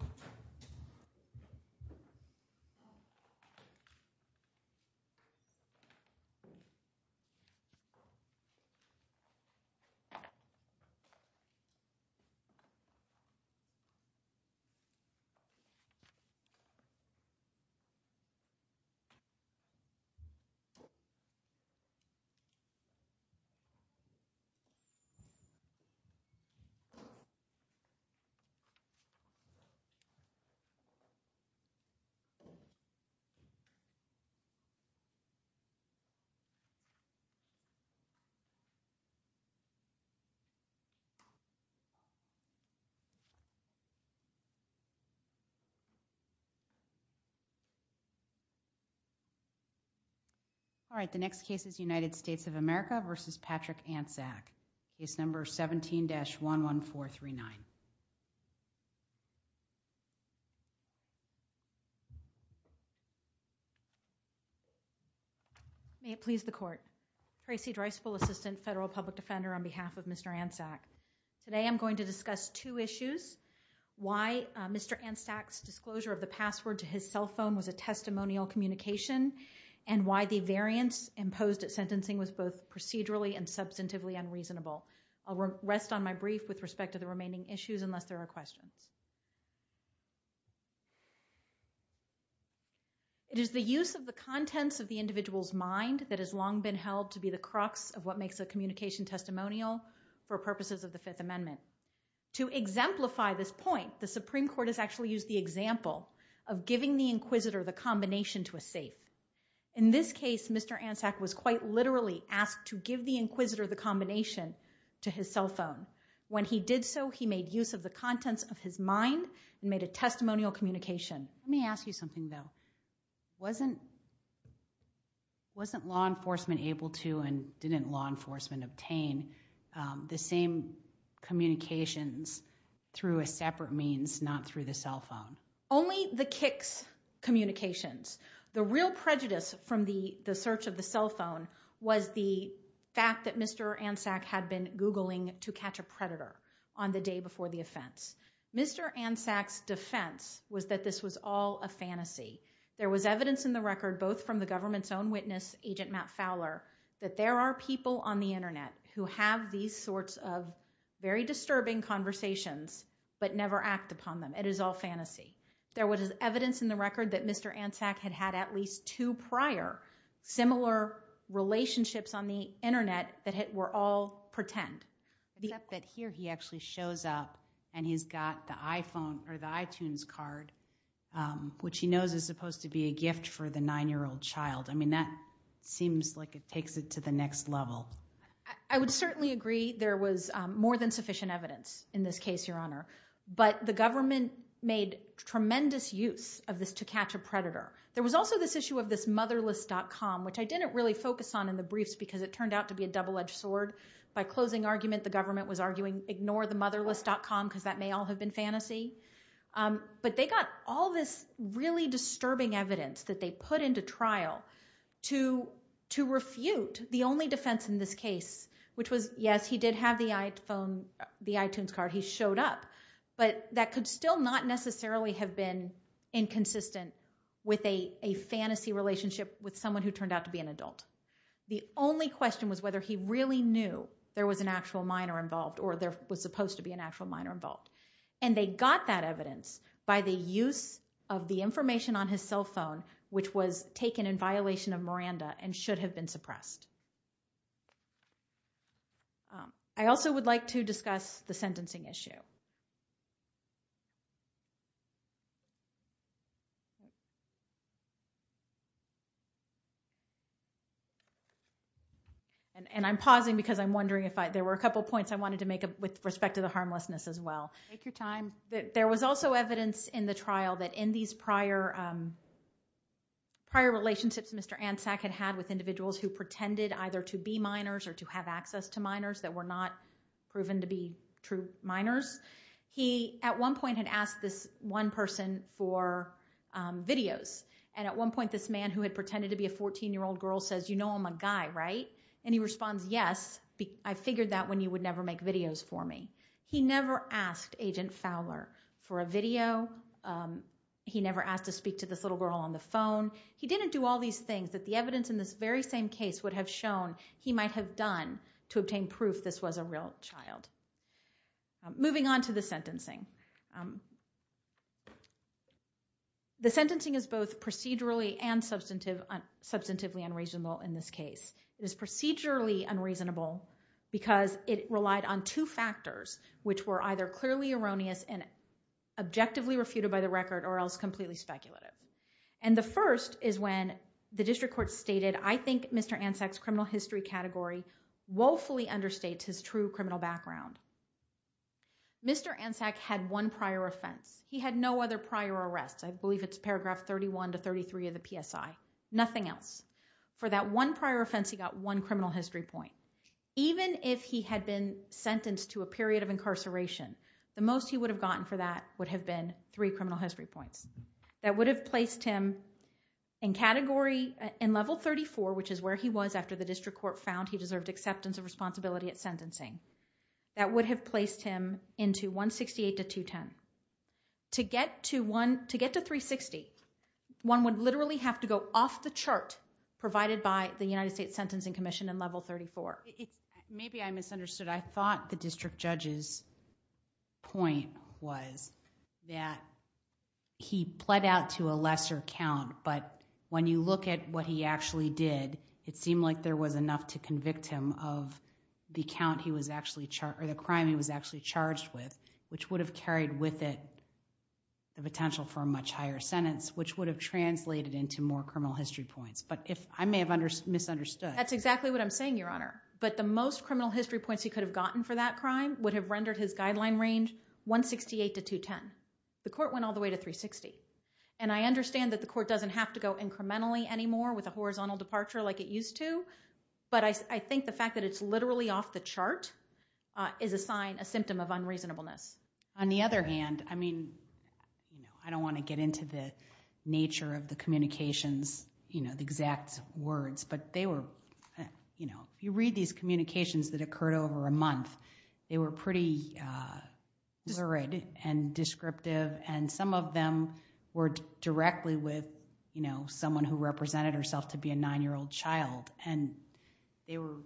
Case No. 17-11439. May it please the Court. Tracy Dreisbull, Assistant Federal Public Defender, on behalf of Mr. Antczak. Today I'm going to discuss two issues. Why Mr. Antczak's disclosure of the password to his cell phone was a testimonial communication and why the variance imposed at sentencing was both procedurally and substantively unreasonable. I'll rest on my brief with respect to the remaining issues unless there are questions. It is the use of the contents of the individual's mind that has long been held to be the crux of what makes a communication testimonial for purposes of the Fifth Amendment. To exemplify this point, the Supreme Court has actually used the example of giving the inquisitor the combination to a safe. In this case, Mr. Antczak was quite literally asked to give the inquisitor the combination to his cell phone. When he did so, he made use of the contents of his mind and made a testimonial communication. Let me ask you something, though. Wasn't law enforcement able to and didn't law enforcement obtain the same communications through a separate means, not through the cell phone? Only the KICS communications. The real prejudice from the search of the cell phone was the fact that Mr. Antczak had been Googling to catch a predator on the day before the offense. Mr. Antczak's defense was that this was all a fantasy. There was evidence in the record, both from the government's own witness, Agent Matt Fowler, that there are people on the Internet who have these sorts of very disturbing conversations but never act upon them. It is all fantasy. There was evidence in the record that Mr. Antczak had had at least two prior similar relationships on the Internet that were all pretend. Except that here he actually shows up and he's got the iTunes card, which he knows is supposed to be a gift for the nine-year-old child. I mean, that seems like it takes it to the next level. I would certainly agree there was more than sufficient evidence in this case, Your Honor. But the government made tremendous use of this to catch a predator. There was also this issue of this motherless.com, which I didn't really focus on in the briefs because it turned out to be a double-edged sword. By closing argument, the government was arguing, ignore the motherless.com because that may all have been fantasy. But they got all this really disturbing evidence that they put into trial to refute the only defense in this case, which was, yes, he did have the iPhone, the iTunes card. He showed up. But that could still not necessarily have been inconsistent with a fantasy relationship with someone who turned out to be an adult. The only question was whether he really knew there was an actual minor involved or there was supposed to be an actual minor involved. And they got that evidence by the use of the information on his cell phone, which was taken in violation of Miranda and should have been suppressed. I also would like to discuss the sentencing issue. And I'm pausing because I'm wondering if there were a couple points I wanted to make with respect to the harmlessness as well. There was also evidence in the trial that in these prior relationships Mr. Ansack had with individuals who pretended either to be minors or to have access to minors that were not proven to be true minors. He at one point had asked this one person for videos. And at one point this man who had pretended to be a 14-year-old girl says, you know I'm a guy, right? And he responds, yes, I figured that when you would never make videos for me. He never asked Agent Fowler for a video. He never asked to speak to this little girl on the phone. He didn't do all these things that the evidence in this very same case would have shown he might have done to obtain proof this was a real child. Moving on to the sentencing. The sentencing is both procedurally and substantively unreasonable in this case. It is procedurally unreasonable because it relied on two factors which were either clearly erroneous and objectively refuted by the record or else completely speculative. And the first is when the district court stated, I think Mr. Anzac's criminal history category woefully understates his true criminal background. Mr. Anzac had one prior offense. He had no other prior arrests. I believe it's paragraph 31 to 33 of the PSI, nothing else. For that one prior offense he got one criminal history point. Even if he had been sentenced to a period of incarceration, the most he would have gotten for that would have been three criminal history points. That would have placed him in category, in level 34 which is where he was after the district court found he deserved acceptance and responsibility at sentencing. That would have placed him into 168 to 210. To get to 360, one would literally have to go off the chart provided by the United States Sentencing Commission in level 34. Maybe I misunderstood. I thought the district judge's point was that he pled out to a lesser count but when you look at what he actually did, it seemed like there was enough to convict him of the count he was actually, or the crime he was actually charged with which would have carried with it the potential for a much higher sentence which would have translated into more criminal history points. But I may have misunderstood. That's exactly what I'm saying, Your Honor. But the most criminal history points he could have gotten for that crime would have rendered his guideline range 168 to 210. The court went all the way to 360. And I understand that the court doesn't have to go incrementally anymore with a horizontal departure like it used to, but I think the fact that it's literally off the chart is a sign, a symptom of unreasonableness. On the other hand, I mean, I don't want to get into the nature of the communications, you know, the exact words, but they were, you know, if you read these communications that occurred over a month, they were pretty lurid and descriptive and some of them were directly with, you know, someone who represented herself to be a nine-year-old child. And they were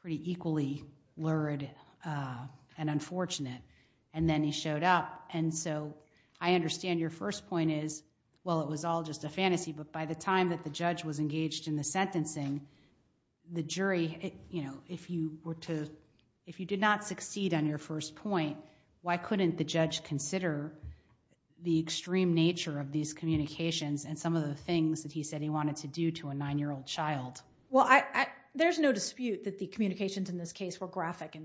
pretty equally lurid and unfortunate. And then he showed up. And so, I understand your first point is, well, it was all just a fantasy, but by the time that the judge was engaged in the sentencing, the jury, you know, if you were to... if you did not succeed on your first point, why couldn't the judge consider the extreme nature of these communications and some of the things that he said he wanted to do to a nine-year-old child? Well, I... there's no dispute that the communications in this case were graphic and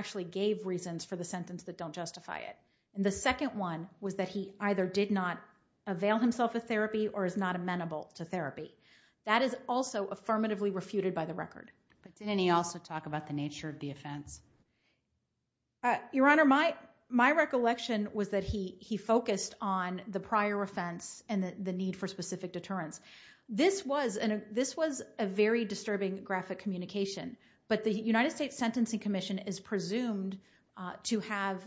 actually gave reasons for the sentence that don't justify it. And the second one was that he either did not avail himself of therapy or is not amenable to therapy. That is also affirmatively refuted by the record. But didn't he also talk about the nature of the offense? Your Honor, my recollection was that he focused on the prior offense and the need for specific deterrence. This was a very disturbing graphic communication. But the United States Sentencing Commission is presumed to have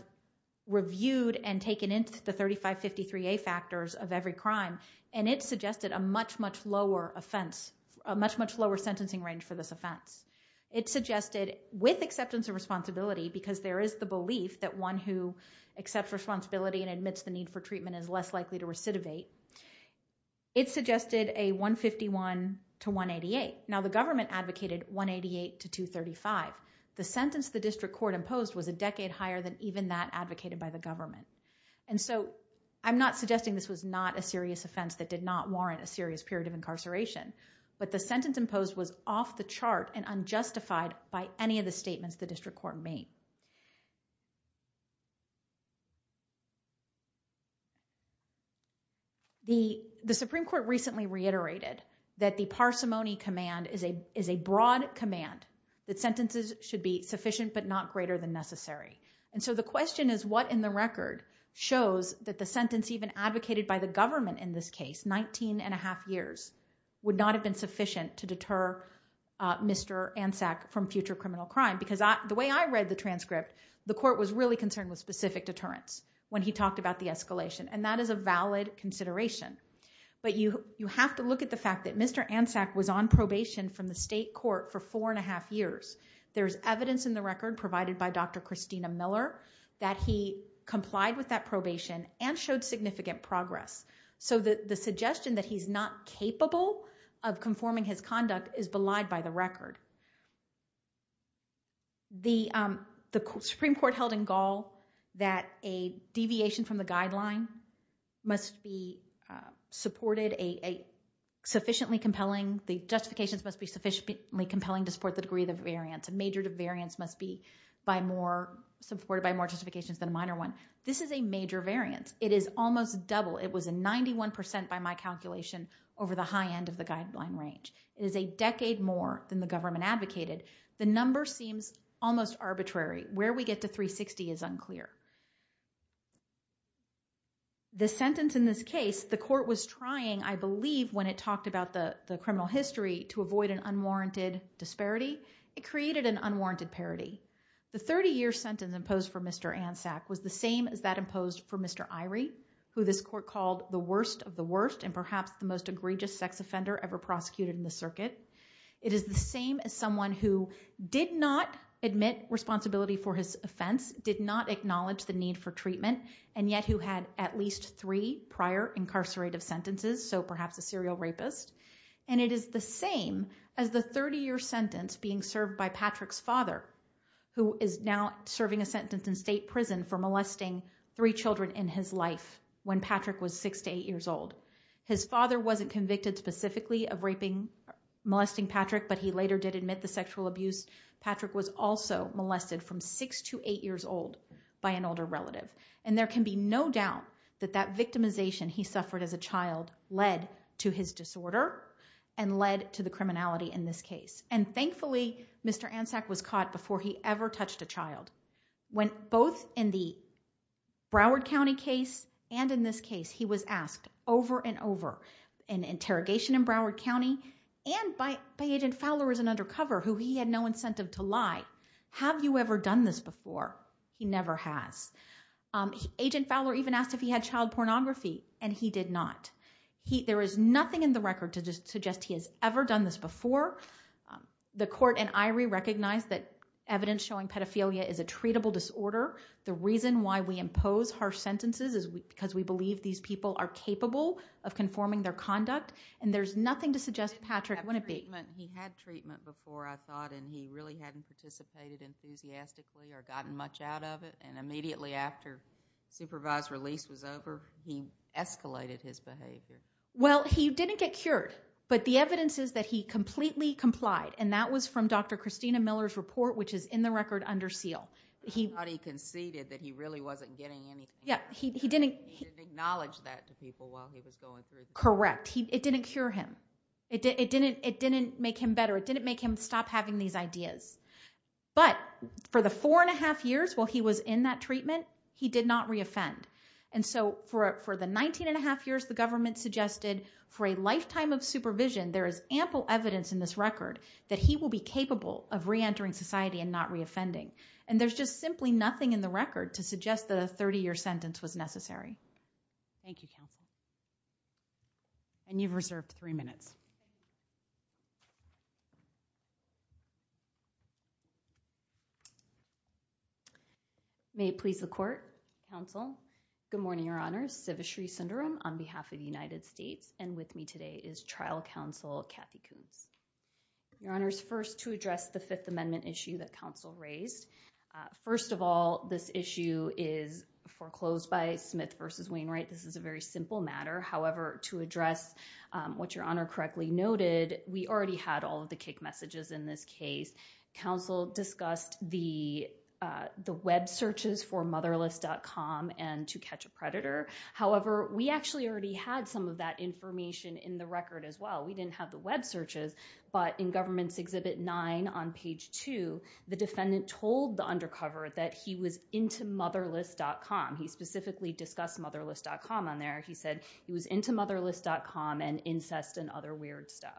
reviewed and taken into the 3553A factors of every crime, and it suggested a much, much lower offense, a much, much lower sentencing range for this offense. It suggested, with acceptance and responsibility, because there is the belief that one who accepts responsibility and admits the need for treatment is less likely to recidivate. It suggested a 151 to 188. Now, the government advocated 188 to 235. The sentence the district court imposed was a decade higher than even that advocated by the government. And so, I'm not suggesting this was not a serious offense that did not warrant a serious period of incarceration. But the sentence imposed was off the chart and unjustified by any of the statements the district court made. The Supreme Court recently reiterated that the parsimony command is a broad command, that sentences should be sufficient but not greater than necessary. And so, the question is, what in the record shows that the sentence even advocated by the government in this case, 19 and a half years, would not have been sufficient to deter Mr. Ansack from future criminal crime? Because the way I read the transcript, the court was really concerned with specific deterrence when he talked about the escalation. And that is a valid consideration. But you have to look at the fact that Mr. Ansack was on probation from the state court for four and a half years. There's evidence in the record provided by Dr. Christina Miller that he complied with that probation and showed significant progress. So the suggestion that he's not capable of conforming his conduct is belied by the record. The Supreme Court held in Gaul that a deviation from the guideline must be supported a sufficiently compelling, the justifications must be sufficiently compelling to support the degree of the variance. A major variance must be by more, supported by more justifications than a minor one. This is a major variance. It is almost double, it was a 91% by my calculation, over the high end of the guideline range. It is a decade more than the government had anticipated. The number seems almost arbitrary. Where we get to 360 is unclear. The sentence in this case, the court was trying, I believe, when it talked about the criminal history to avoid an unwarranted disparity, it created an unwarranted parity. The 30-year sentence imposed for Mr. Ansack was the same as that imposed for Mr. Irie, who this court called the worst of the worst and perhaps the most egregious sex offender ever prosecuted in the circuit. It is the same as someone who did not admit responsibility for his offense, did not acknowledge the need for treatment, and yet who had at least three prior incarcerated sentences, so perhaps a serial rapist. And it is the same as the 30-year sentence being served by Patrick's father, who is now serving a sentence in state prison for molesting three children in his life when Patrick was six to eight years old. His father wasn't convicted specifically of raping, molesting Patrick, but he later did admit the sexual abuse. Patrick was also molested from six to eight years old by an older relative. And there can be no doubt that that victimization he suffered as a child led to his disorder and led to the criminality in this case. And thankfully, Mr. Ansack was caught before he ever touched a child. When both in the Broward County case and in this case, he was asked over and over in interrogation in Broward County and by Agent Fowler as an undercover, who he had no incentive to lie. Have you ever done this before? He never has. Agent Fowler even asked if he had child pornography, and he did not. There is nothing in the record to suggest he has ever done this before. The court in Irie recognized that evidence showing pedophilia is a treatable disorder. The reason why we impose harsh sentences is because we believe these people are capable of conforming their conduct, and there's nothing to suggest Patrick wouldn't be. He had treatment before, I thought, and he really hadn't participated enthusiastically or gotten much out of it, and immediately after supervised release was over, he escalated his behavior. Well, he didn't get cured, but the evidence is that he completely complied, and that was from Dr. Christina Miller's report, which is in the record under seal. He thought he conceded that he really wasn't getting anything. He didn't acknowledge that to people while he was going through. Correct. It didn't cure him. It didn't make him better. It didn't make him stop having these ideas. But for the four and a half years while he was in that treatment, he did not re-offend. And so, for the 19 and a half years the government suggested, for a lifetime of supervision, there is ample evidence in this record that he will be capable of re-entering society and not re-offending. And there's just simply nothing in the record to suggest that a 30-year sentence was necessary. Thank you, counsel. And you've reserved three minutes. May it please the court, counsel, good morning, your honors. Sivashree Sundaram on behalf of the United States, and with me today is trial counsel Kathy Koontz. Your honors, first, to address the Fifth Amendment issue that counsel raised. First of all, this issue is foreclosed by Smith v. Wainwright. This is a very simple matter. However, to address what your honor correctly noted, we already had all of the kick messages in this case. Counsel discussed the web searches for motherless.com and to catch a predator. However, we actually already had some of that information in the record as well. We didn't have the web searches. But in government's exhibit nine on page two, the defendant told the undercover that he was into motherless.com. He specifically discussed motherless.com on there. He said he was into motherless.com and incest and other weird stuff.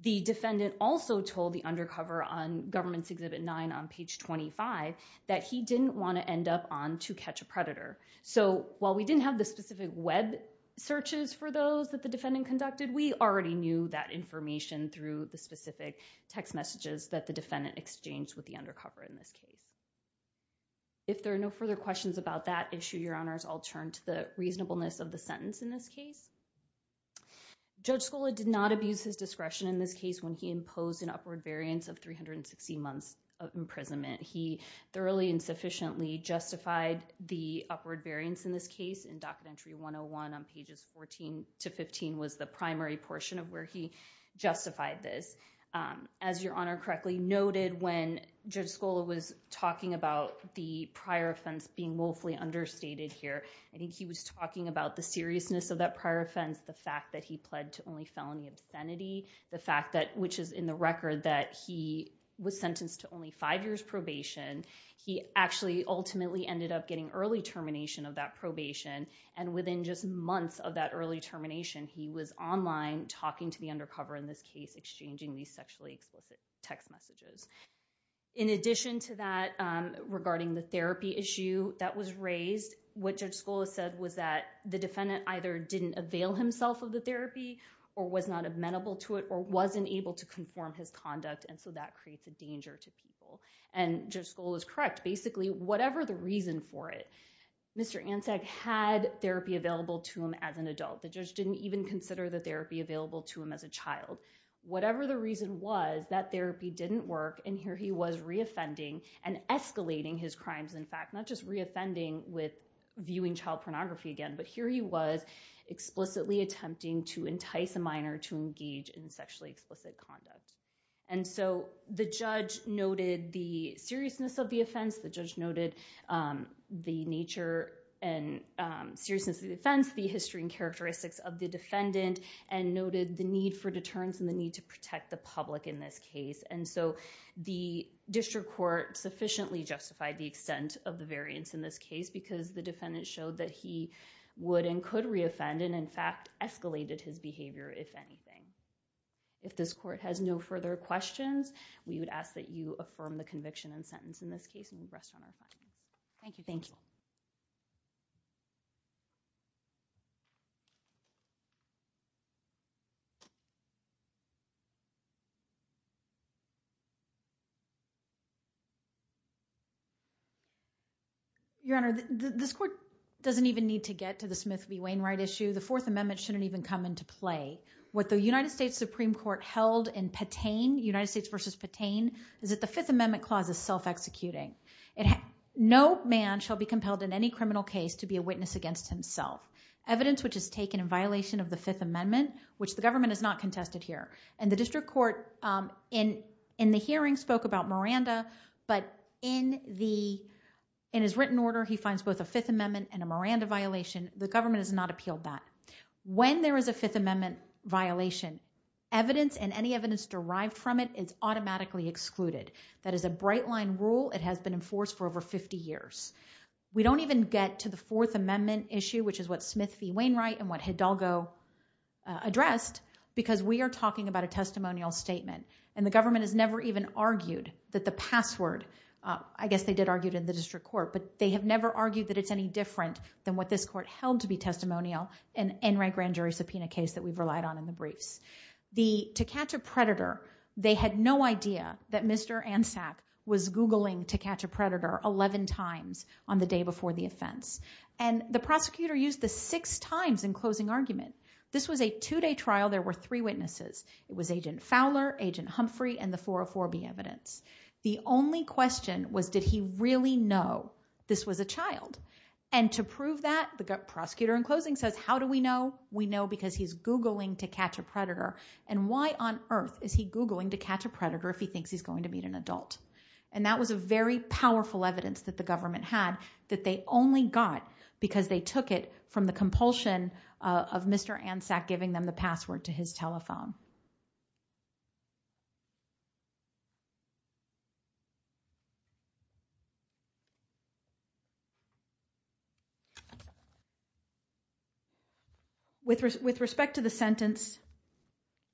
The defendant also told the undercover on government's exhibit nine on page 25 that he didn't want to end up on to catch a predator. So while we didn't have the specific web searches for those that the defendant conducted, we already knew that information through the specific text messages that the defendant exchanged with the undercover in this case. If there are no further questions about that issue, your honors, I'll turn to the reasonableness of the sentence in this case. Judge Scola did not abuse his discretion in this case when he imposed an upward variance of 360 months of imprisonment. He thoroughly and sufficiently justified the upward variance in this case in Documentary 101 on pages 14 to 15 was the primary portion of where he justified this. As your honor correctly noted, when Judge Scola was talking about the prior offense being woefully understated here, I think he was talking about the seriousness of that prior offense, the fact that he pled to only felony obscenity, the fact that, which is in the record that he was sentenced to only five years probation. He actually ultimately ended up getting early termination of that probation. And within just months of that early termination, he was online talking to the undercover in this case, exchanging these sexually explicit text messages. In addition to that, regarding the therapy issue that was raised, what Judge Scola said was that the defendant either didn't avail himself of the therapy, or was not amenable to it, or wasn't able to conform his conduct, and so that creates a danger to people. And Judge Scola is correct. Basically, whatever the reason for it, Mr. Ansag had therapy available to him as an adult. The judge didn't even consider the therapy available to him as a child. Whatever the reason was, that therapy didn't work, and here he was re-offending and escalating his crimes. In fact, not just re-offending with viewing child pornography again, but here he was explicitly attempting to entice a minor to engage in sexually explicit conduct. And so the judge noted the seriousness of the offense. The judge noted the nature and seriousness of the offense, the history and characteristics of the defendant, and noted the need for deterrence and the need to protect the public in this case. And so the district court sufficiently justified the extent of the variance in this case, because the defendant showed that he would and could re-offend, and in fact, escalated his behavior if anything. If this court has no further questions, we would ask that you affirm the conviction and sentence in this case, and we'd rest on our final. Thank you. Thank you. Thank you. Your Honor, this court doesn't even need to get to the Smith v. Wainwright issue. The Fourth Amendment shouldn't even come into play. What the United States Supreme Court held in Patain, United States v. Patain, is that the Fifth Amendment clause is self-executing. No man shall be compelled in any criminal case to be a witness against himself. Evidence which is taken in violation of the Fifth Amendment, which the government has not contested here. And the district court in the hearing spoke about Miranda, but in his written order he finds both a Fifth Amendment and a Miranda violation. The government has not appealed that. When there is a Fifth Amendment violation, evidence and any evidence derived from it is automatically excluded. That is a bright line rule. It has been enforced for over 50 years. We don't even get to the Fourth Amendment issue, which is what Smith v. Wainwright and what Hidalgo addressed, because we are talking about a testimonial statement. And the government has never even argued that the password, I guess they did argue it in the district court, but they have never argued that it's any different than what this court held to be testimonial in the Enright grand jury subpoena case that we've relied on in the briefs. To catch a predator, they had no idea that Mr. Ansack was Googling to catch a predator 11 times on the day before the offense. And the prosecutor used this six times in closing argument. This was a two-day trial. There were three witnesses. It was Agent Fowler, Agent Humphrey, and the 404B evidence. The only question was, did he really know this was a child? And to prove that, the prosecutor in closing says, how do we know? We know because he's Googling to catch a predator. And why on earth is he Googling to catch a predator if he thinks he's going to meet an adult? And that was a very powerful evidence that the government had that they only got because they took it from the compulsion of Mr. Ansack giving them the password to his telephone. With respect to the sentence,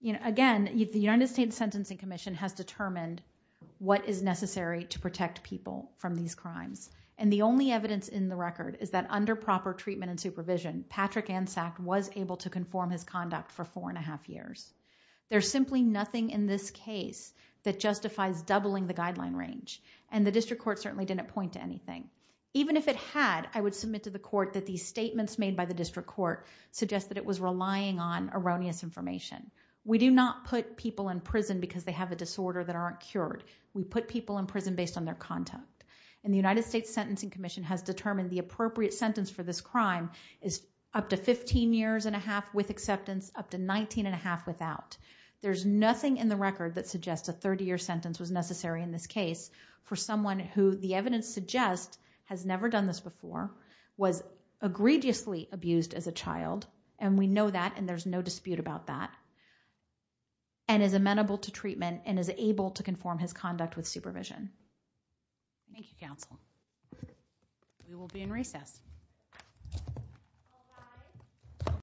again, the United States Sentencing Commission has determined what is necessary to protect people from these crimes. And the only evidence in the record is that under proper treatment and supervision, Patrick Ansack was able to conform his conduct for four and a half years. There's simply nothing in this case that justifies doubling the guideline range. And the district court certainly didn't point to anything. Even if it had, I would submit to the court that these statements made by the district court suggest that it was relying on erroneous information. We do not put people in prison because they have a disorder that aren't cured. We put people in prison based on their conduct. And the United States Sentencing Commission has determined the appropriate sentence for this crime is up to 15 years and a half with acceptance, up to 19 and a half without. There's nothing in the record that suggests a 30-year sentence was necessary in this case for someone who the evidence suggests has never done this before, was egregiously abused as a child, and we know that and there's no dispute about that, and is amenable to treatment and is able to conform his conduct with supervision. Thank you, counsel. We will be in recess.